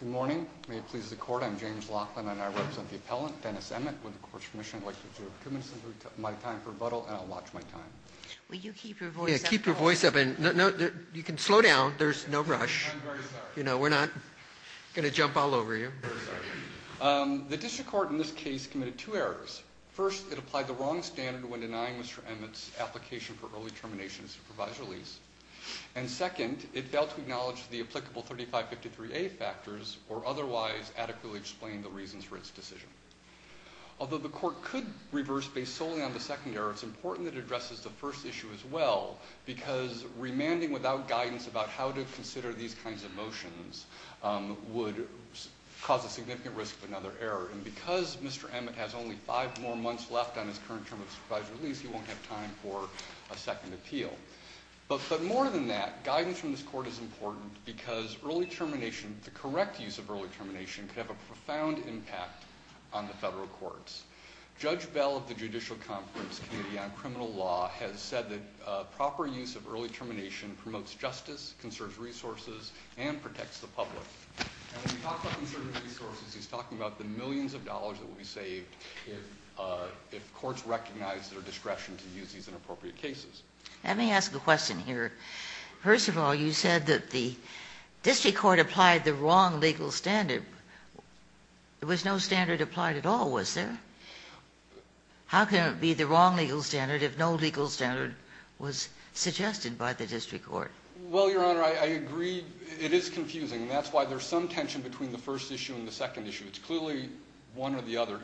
Good morning. May it please the court, I'm James Laughlin and I represent the appellant Dennis Emmett. Would the court's commission like to adjourn for two minutes and take my time for rebuttal and I'll watch my time. Will you keep your voice up? Yeah, keep your voice up and you can slow down, there's no rush. I'm very sorry. You know, we're not going to jump all over you. I'm very sorry. The district court in this case committed two errors. First, it applied the wrong standard when denying Mr. Emmett's application for early termination and supervised release. And second, it failed to acknowledge the applicable 3553A factors or otherwise adequately explain the reasons for its decision. Although the court could reverse based solely on the second error, it's important that it addresses the first issue as well because remanding without guidance about how to consider these kinds of motions would cause a significant risk of another error. And because Mr. Emmett has only five more months left on his current term of supervised release, he won't have time for a second appeal. But more than that, guidance from this court is important because early termination, the correct use of early termination, could have a profound impact on the federal courts. Judge Bell of the Judicial Conference Committee on Criminal Law has said that proper use of early termination promotes justice, conserves resources, and protects the public. And when we talk about conserving resources, he's talking about the millions of dollars that will be saved if courts recognize their discretion to use these in appropriate cases. Let me ask a question here. First of all, you said that the district court applied the wrong legal standard. There was no standard applied at all, was there? How can it be the wrong legal standard if no legal standard was suggested by the district court? Well, Your Honor, I agree it is confusing. And that's why there's some tension between the first issue and the second issue. It's clearly one or the other.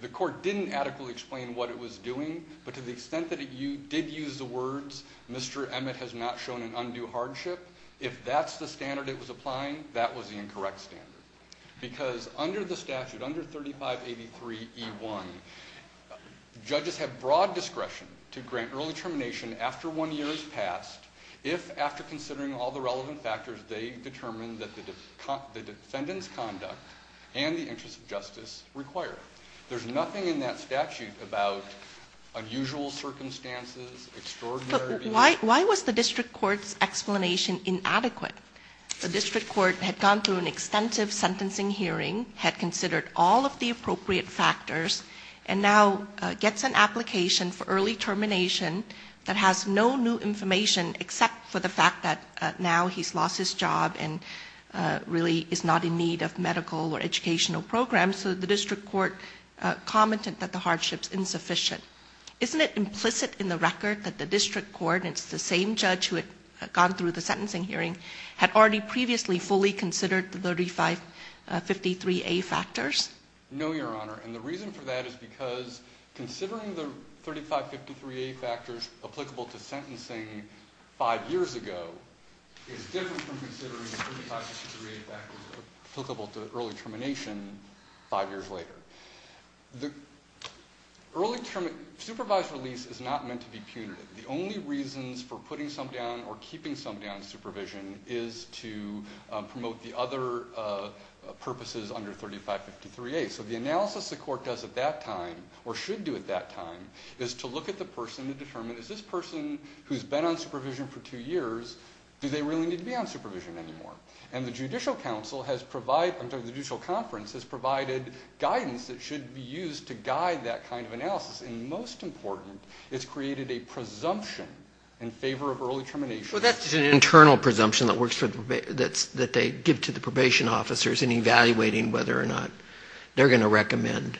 The court didn't adequately explain what it was doing. But to the extent that it did use the words, Mr. Emmett has not shown an undue hardship, if that's the standard it was applying, that was the incorrect standard. Because under the statute, under 3583E1, judges have broad discretion to grant early termination after one year has passed if, after considering all the relevant factors, they determine that the defendant's conduct and the interests of justice require it. There's nothing in that statute about unusual circumstances, extraordinary behavior. But why was the district court's explanation inadequate? The district court had gone through an extensive sentencing hearing, had considered all of the appropriate factors, and now gets an application for early termination that has no new information except for the fact that now he's lost his job and really is not in need of medical or educational programs. So the district court commented that the hardship's insufficient. Isn't it implicit in the record that the district court, and it's the same judge who had gone through the sentencing hearing, had already previously fully considered the 3553A factors? No, Your Honor. And the reason for that is because considering the 3553A factors applicable to sentencing five years ago is different from considering the 3553A factors applicable to early termination five years later. The supervised release is not meant to be punitive. The only reasons for putting somebody on or keeping somebody on supervision is to promote the other purposes under 3553A. So the analysis the court does at that time, or should do at that time, is to look at the person and determine, is this person who's been on supervision for two years, do they really need to be on supervision anymore? And the judicial conference has provided guidance that should be used to guide that kind of analysis. And most important, it's created a presumption in favor of early termination. Well, that's an internal presumption that they give to the probation officers in evaluating whether or not they're going to recommend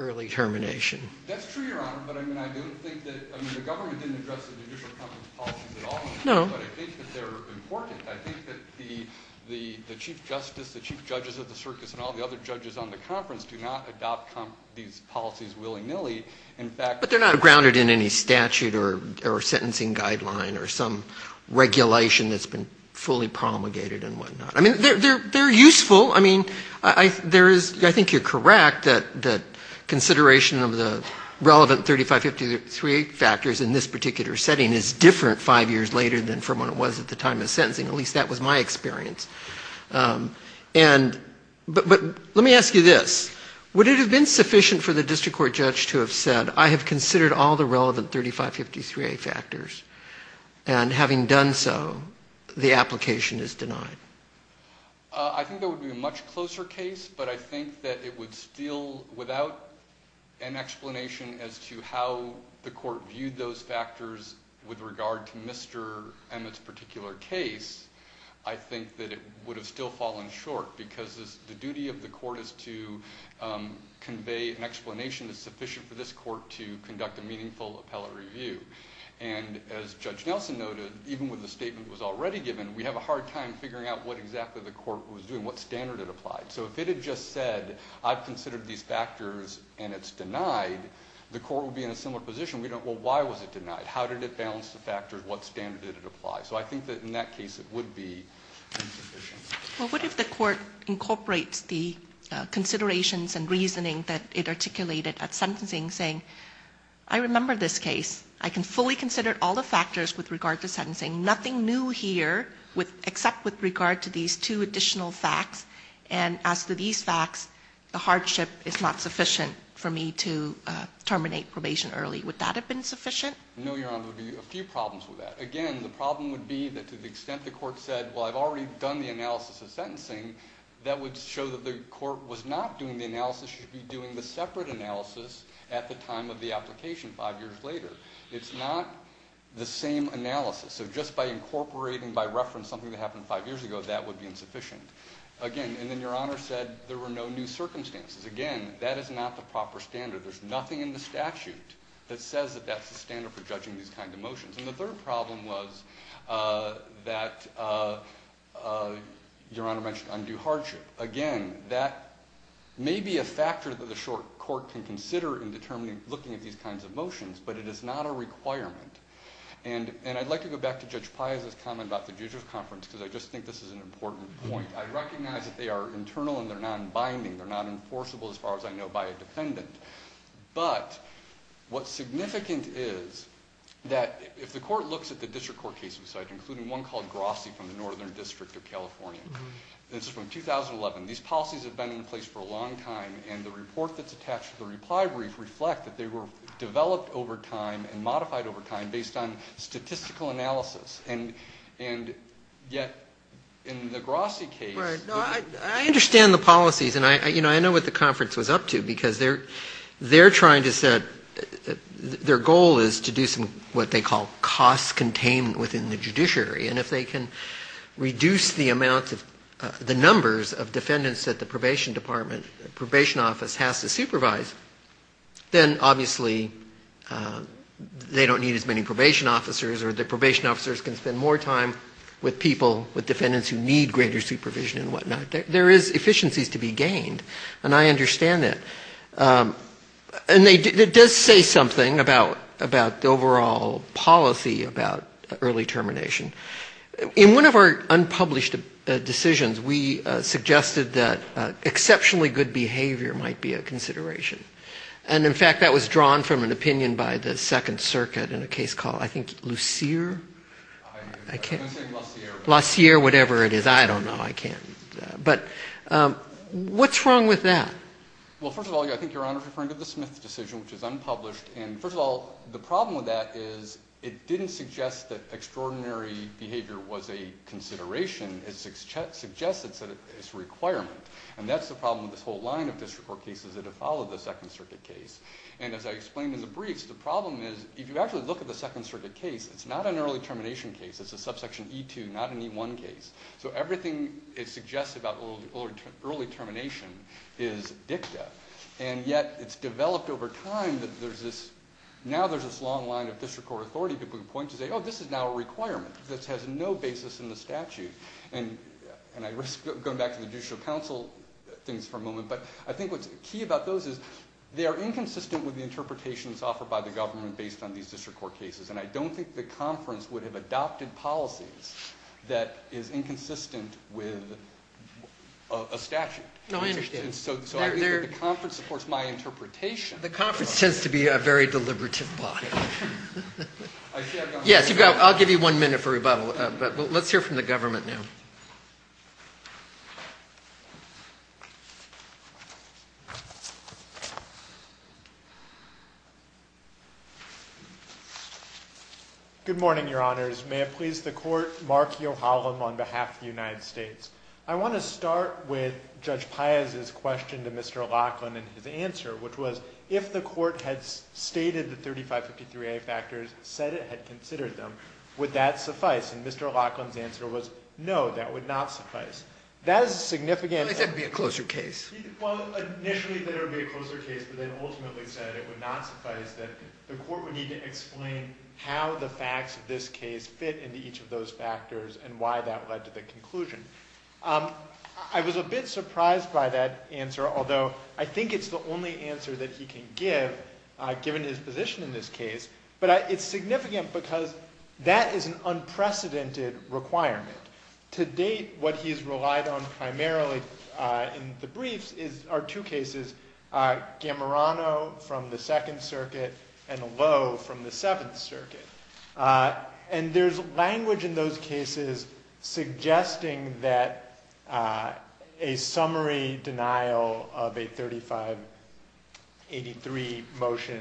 early termination. That's true, Your Honor, but I mean, I don't think that, I mean, the government didn't address the judicial conference policies at all. No. But I think that they're important. I think that the Chief Justice, the Chief Judges of the Circus, and all the other judges on the conference do not adopt these policies willy-nilly. In fact... But they're not grounded in any statute or sentencing guideline or some regulation that's been fully promulgated and whatnot. I mean, they're useful. Well, I mean, I think you're correct that consideration of the relevant 3553A factors in this particular setting is different five years later than from when it was at the time of sentencing. At least that was my experience. But let me ask you this. Would it have been sufficient for the district court judge to have said, I have considered all the relevant 3553A factors, and having done so, the application is denied? I think that would be a much closer case, but I think that it would still, without an explanation as to how the court viewed those factors with regard to Mr. Emmett's particular case, I think that it would have still fallen short because the duty of the court is to convey an explanation that's sufficient for this court to conduct a meaningful appellate review. And as Judge Nelson noted, even with the statement that was already given, we have a hard time figuring out what exactly the court was doing, what standard it applied. So if it had just said, I've considered these factors and it's denied, the court would be in a similar position. Well, why was it denied? How did it balance the factors? What standard did it apply? So I think that in that case, it would be insufficient. Well, what if the court incorporates the considerations and reasoning that it articulated at sentencing, saying, I remember this case. I can fully consider all the factors with regard to sentencing. Nothing new here except with regard to these two additional facts, and as to these facts, the hardship is not sufficient for me to terminate probation early. Would that have been sufficient? No, Your Honor. There would be a few problems with that. Again, the problem would be that to the extent the court said, well, I've already done the analysis of sentencing, that would show that the court was not doing the analysis. It should be doing the separate analysis at the time of the application, five years later. It's not the same analysis. So just by incorporating, by reference, something that happened five years ago, that would be insufficient. Again, and then Your Honor said there were no new circumstances. Again, that is not the proper standard. There's nothing in the statute that says that that's the standard for judging these kind of motions. And the third problem was that Your Honor mentioned undue hardship. Again, that may be a factor that the court can consider in determining, looking at these kinds of motions, but it is not a requirement. And I'd like to go back to Judge Piazza's comment about the judge's conference because I just think this is an important point. I recognize that they are internal and they're non-binding. They're not enforceable, as far as I know, by a defendant. But what's significant is that if the court looks at the district court cases, including one called Grossi from the Northern District of California, this is from 2011. These policies have been in place for a long time, and the report that's attached to the reply brief reflect that they were developed over time and modified over time based on statistical analysis. And yet, in the Grossi case... I understand the policies, and I know what the conference was up to, because they're trying to set, their goal is to do some, what they call, cost containment within the judiciary. And if they can reduce the amount of, the numbers of defendants that the probation department, probation office has to supervise, then obviously they don't need as many probation officers or the probation officers can spend more time with people, with defendants who need greater supervision and whatnot. There is efficiencies to be gained, and I understand that. And it does say something about the overall policy about early termination. In one of our unpublished decisions, we suggested that exceptionally good behavior might be a consideration. And, in fact, that was drawn from an opinion by the Second Circuit in a case called, I think, Lucier? I'm going to say La Sierra. La Sierra, whatever it is. I don't know. I can't. But what's wrong with that? Well, first of all, I think Your Honor is referring to the Smith decision, which is unpublished. And, first of all, the problem with that is it didn't suggest that extraordinary behavior was a consideration. It suggested that it's a requirement. And that's the problem with this whole line of district court cases that have followed the Second Circuit case. And, as I explained in the briefs, the problem is if you actually look at the Second Circuit case, it's not an early termination case. It's a subsection E2, not an E1 case. So everything it suggests about early termination is dicta. And yet it's developed over time that there's this – now there's this long line of district court authority people who point to say, oh, this is now a requirement. This has no basis in the statute. And I risk going back to the Judicial Council things for a moment. But I think what's key about those is they are inconsistent with the interpretations offered by the government based on these district court cases. And I don't think the conference would have adopted policies that is inconsistent with a statute. No, I understand. So I think that the conference supports my interpretation. The conference tends to be a very deliberative body. Yes, I'll give you one minute for rebuttal. But let's hear from the government now. Good morning, Your Honors. May it please the Court, Mark Yohalam on behalf of the United States. I want to start with Judge Paez's question to Mr. Laughlin and his answer, which was if the Court had stated the 3553A factors, said it had considered them, would that suffice? And Mr. Laughlin's answer was no, that would not suffice. That is significant. He said it would be a closer case. Well, initially he said it would be a closer case, but then ultimately said it would not suffice, that the Court would need to explain how the facts of this case fit into each of those factors and why that led to the conclusion. I was a bit surprised by that answer, although I think it's the only answer that he can give, given his position in this case. But it's significant because that is an unprecedented requirement. To date, what he's relied on primarily in the briefs are two cases, Gamarano from the Second Circuit and Lowe from the Seventh Circuit. And there's language in those cases suggesting that a summary denial of a 3583 motion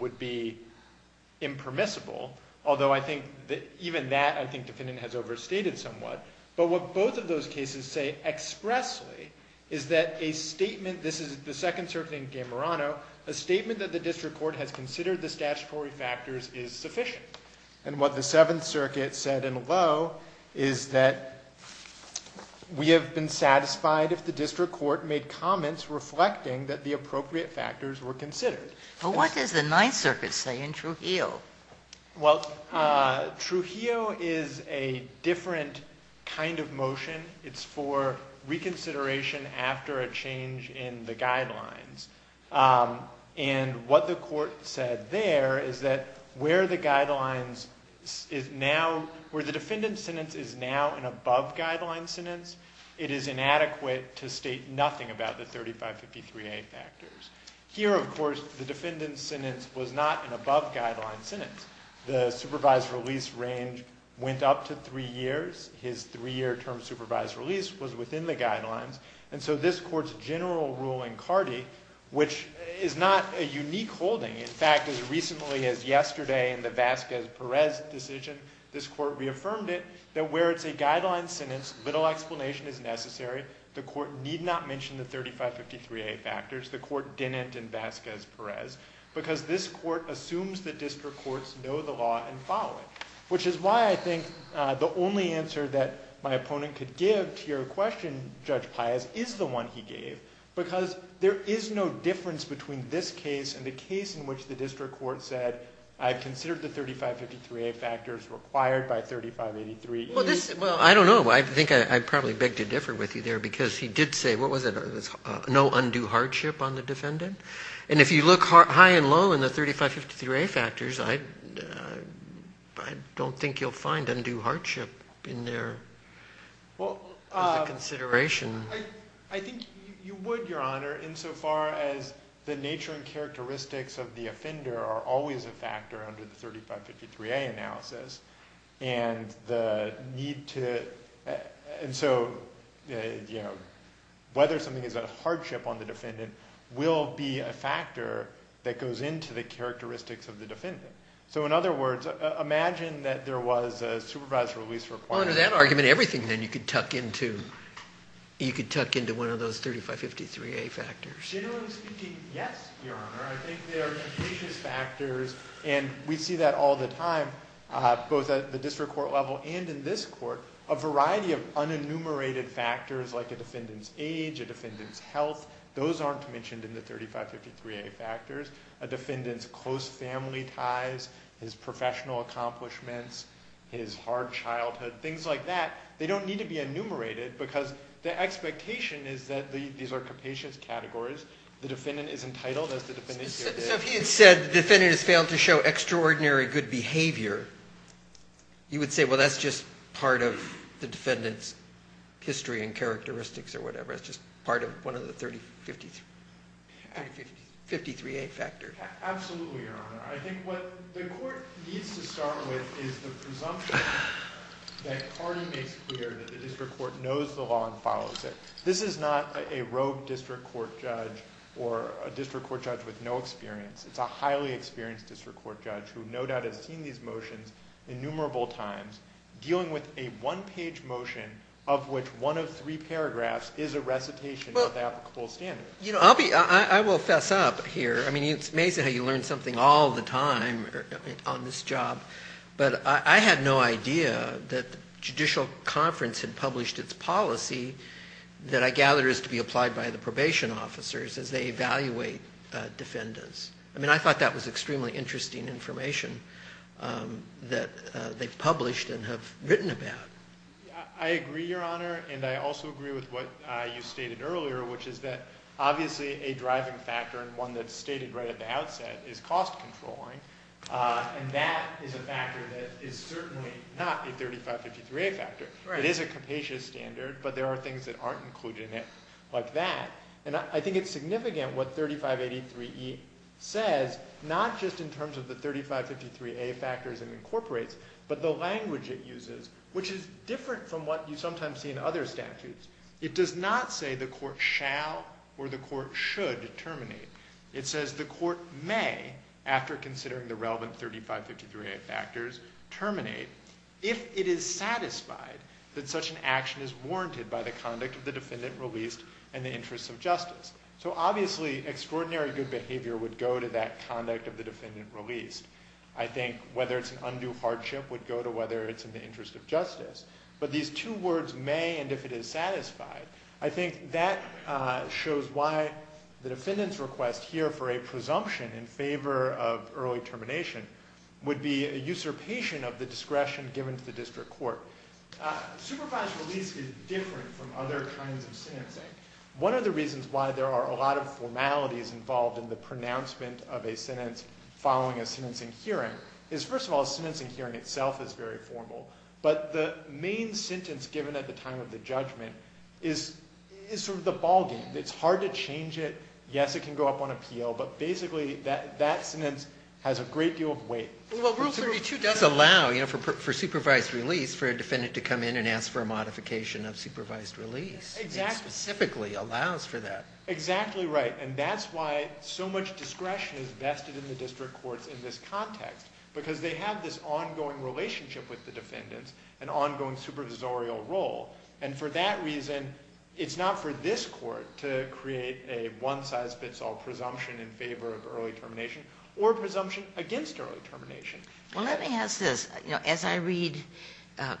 would be impermissible, although I think even that, I think the defendant has overstated somewhat. But what both of those cases say expressly is that a statement, this is the Second Circuit and Gamarano, a statement that the District Court has considered the statutory factors is sufficient. And what the Seventh Circuit said in Lowe is that we have been satisfied if the District Court made comments reflecting that the appropriate factors were considered. But what does the Ninth Circuit say in Trujillo? Well, Trujillo is a different kind of motion. It's for reconsideration after a change in the guidelines. And what the court said there is that where the defendant's sentence is now an above-guideline sentence, it is inadequate to state nothing about the 3553A factors. Here, of course, the defendant's sentence was not an above-guideline sentence. The supervised release range went up to three years. His three-year term supervised release was within the guidelines. And so this court's general ruling, Cardi, which is not a unique holding. In fact, as recently as yesterday in the Vasquez-Perez decision, this court reaffirmed it that where it's a guideline sentence, little explanation is necessary. The court need not mention the 3553A factors. The court didn't in Vasquez-Perez because this court assumes the District Courts know the law and follow it, which is why I think the only answer that my opponent could give to your question, Judge Pius, is the one he gave, because there is no difference between this case and the case in which the District Court said, I've considered the 3553A factors required by 3583E. Well, I don't know. I think I probably beg to differ with you there because he did say, what was it, no undue hardship on the defendant? And if you look high and low in the 3553A factors, I don't think you'll find undue hardship in there as a consideration. I think you would, Your Honor, insofar as the nature and characteristics of the offender are always a factor under the 3553A analysis. And so whether something is a hardship on the defendant will be a factor that goes into the characteristics of the defendant. So in other words, imagine that there was a supervised release requirement. Under that argument, everything then you could tuck into one of those 3553A factors. Your Honor, I think there are capacious factors, and we see that all the time, both at the District Court level and in this court, a variety of unenumerated factors like a defendant's age, a defendant's health. Those aren't mentioned in the 3553A factors. A defendant's close family ties, his professional accomplishments, his hard childhood, things like that. They don't need to be enumerated because the expectation is that these are capacious categories. The defendant is entitled, as the defendant here did. So if he had said the defendant has failed to show extraordinary good behavior, you would say, well, that's just part of the defendant's history and characteristics or whatever. It's just part of one of the 3553A factors. Absolutely, Your Honor. I think what the court needs to start with is the presumption that Cardi makes clear that the District Court knows the law and follows it. This is not a rogue District Court judge or a District Court judge with no experience. It's a highly experienced District Court judge who no doubt has seen these motions innumerable times, dealing with a one-page motion of which one of three paragraphs is a recitation of applicable standards. I will fess up here. I mean, it's amazing how you learn something all the time on this job. But I had no idea that the Judicial Conference had published its policy that I gather is to be applied by the probation officers as they evaluate defendants. I mean, I thought that was extremely interesting information that they've published and have written about. I agree, Your Honor, and I also agree with what you stated earlier, which is that obviously a driving factor and one that's stated right at the outset is cost controlling. And that is a factor that is certainly not a 3553A factor. It is a capacious standard, but there are things that aren't included in it like that. And I think it's significant what 3583E says, not just in terms of the 3553A factors it incorporates, but the language it uses, which is different from what you sometimes see in other statutes. It does not say the court shall or the court should terminate. It says the court may, after considering the relevant 3553A factors, terminate if it is satisfied that such an action is warranted by the conduct of the defendant released in the interest of justice. So obviously extraordinary good behavior would go to that conduct of the defendant released. I think whether it's an undue hardship would go to whether it's in the interest of justice. But these two words, may and if it is satisfied, I think that shows why the defendant's request here for a presumption in favor of early termination would be a usurpation of the discretion given to the district court. Supervised release is different from other kinds of sentencing. One of the reasons why there are a lot of formalities involved in the pronouncement of a sentence following a sentencing hearing is, first of all, a sentencing hearing itself is very formal. But the main sentence given at the time of the judgment is sort of the ballgame. It's hard to change it. Yes, it can go up on appeal. But basically, that sentence has a great deal of weight. Well, Rule 32 does allow for supervised release for a defendant to come in and ask for a modification of supervised release. It specifically allows for that. Exactly right. And that's why so much discretion is vested in the district courts in this context, because they have this ongoing relationship with the defendants, an ongoing supervisorial role. And for that reason, it's not for this court to create a one-size-fits-all presumption in favor of early termination or a presumption against early termination. Well, let me ask this. As I read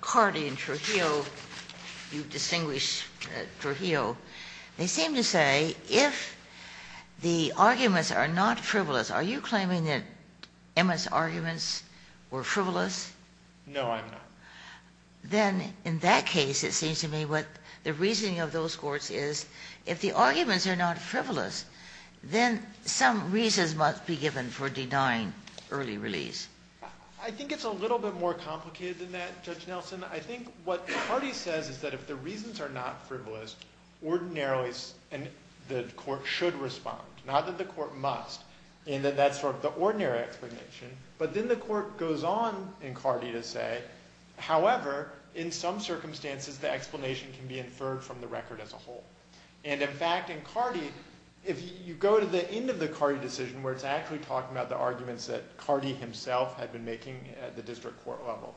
Carty and Trujillo, you've distinguished Trujillo, they seem to say if the arguments are not frivolous, are you claiming that Emmett's arguments were frivolous? No, I'm not. Then in that case, it seems to me what the reasoning of those courts is, if the arguments are not frivolous, then some reasons must be given for denying early release. I think it's a little bit more complicated than that, Judge Nelson. I think what Carty says is that if the reasons are not frivolous, ordinarily the court should respond, not that the court must. And then that's sort of the ordinary explanation. But then the court goes on in Carty to say, however, in some circumstances, the explanation can be inferred from the record as a whole. And in fact, in Carty, if you go to the end of the Carty decision, where it's actually talking about the arguments that Carty himself had been making at the district court level,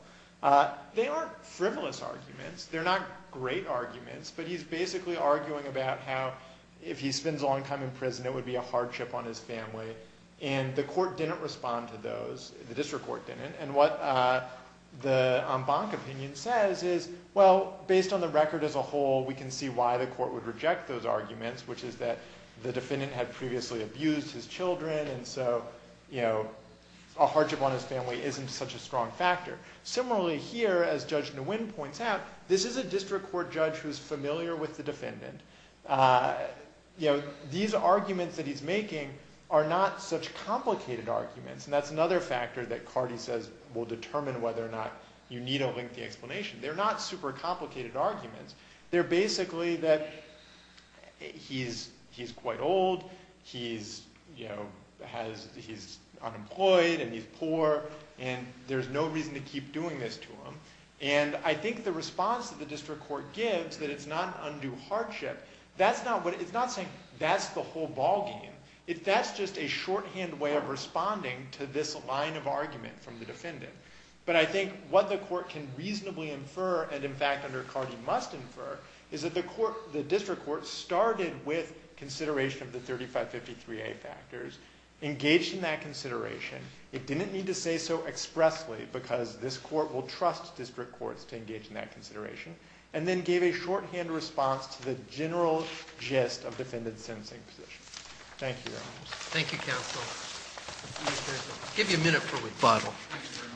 they aren't frivolous arguments. They're not great arguments. But he's basically arguing about how if he spends a long time in prison, it would be a hardship on his family. And the court didn't respond to those, the district court didn't. And what the Embank opinion says is, well, based on the record as a whole, we can see why the court would reject those arguments, which is that the defendant had previously abused his children. And so, you know, a hardship on his family isn't such a strong factor. Similarly here, as Judge Nguyen points out, this is a district court judge who's familiar with the defendant. You know, these arguments that he's making are not such complicated arguments. And that's another factor that Carty says will determine whether or not you need a lengthy explanation. They're not super complicated arguments. They're basically that he's quite old, he's, you know, he's unemployed, and he's poor, and there's no reason to keep doing this to him. And I think the response that the district court gives, that it's not an undue hardship, that's not what – it's not saying that's the whole ballgame. That's just a shorthand way of responding to this line of argument from the defendant. But I think what the court can reasonably infer, and in fact under Carty must infer, is that the district court started with consideration of the 3553A factors, engaged in that consideration, it didn't need to say so expressly because this court will trust district courts to engage in that consideration, and then gave a shorthand response to the general gist of defendant's sentencing position. Thank you. Thank you, counsel. I'll give you a minute for rebuttal. Thank you very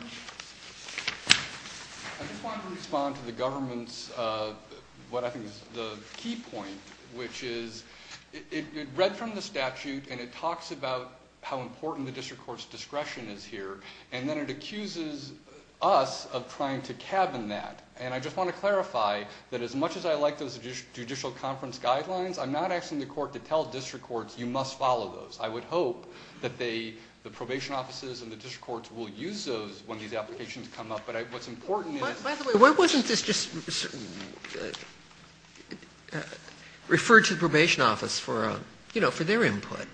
much. I just wanted to respond to the government's – what I think is the key point, which is it read from the statute and it talks about how important the district court's discretion is here, and then it accuses us of trying to cabin that. And I just want to clarify that as much as I like those judicial conference guidelines, I'm not asking the court to tell district courts you must follow those. I would hope that the probation offices and the district courts will use those when these applications come up. But what's important is – By the way, why wasn't this just referred to the probation office for their input?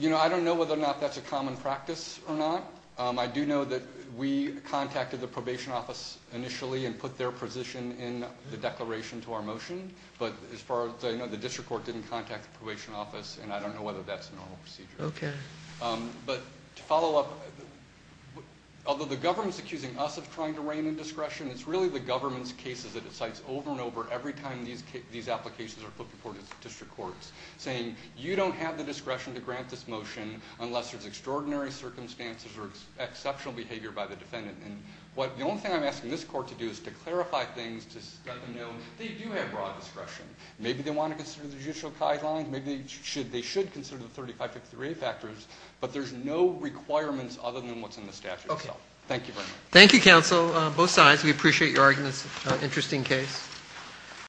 I don't know whether or not that's a common practice or not. I do know that we contacted the probation office initially and put their position in the declaration to our motion, but as far as I know, the district court didn't contact the probation office, and I don't know whether that's a normal procedure. Okay. But to follow up, although the government's accusing us of trying to rein in discretion, it's really the government's cases that it cites over and over every time these applications are put before district courts, saying you don't have the discretion to grant this motion unless there's extraordinary circumstances or exceptional behavior by the defendant. The only thing I'm asking this court to do is to clarify things to let them know that they do have broad discretion. Maybe they want to consider the judicial guidelines. Maybe they should consider the 3553A factors, but there's no requirements other than what's in the statute itself. Okay. Thank you very much. Thank you, counsel, both sides. We appreciate your arguments. Interesting case.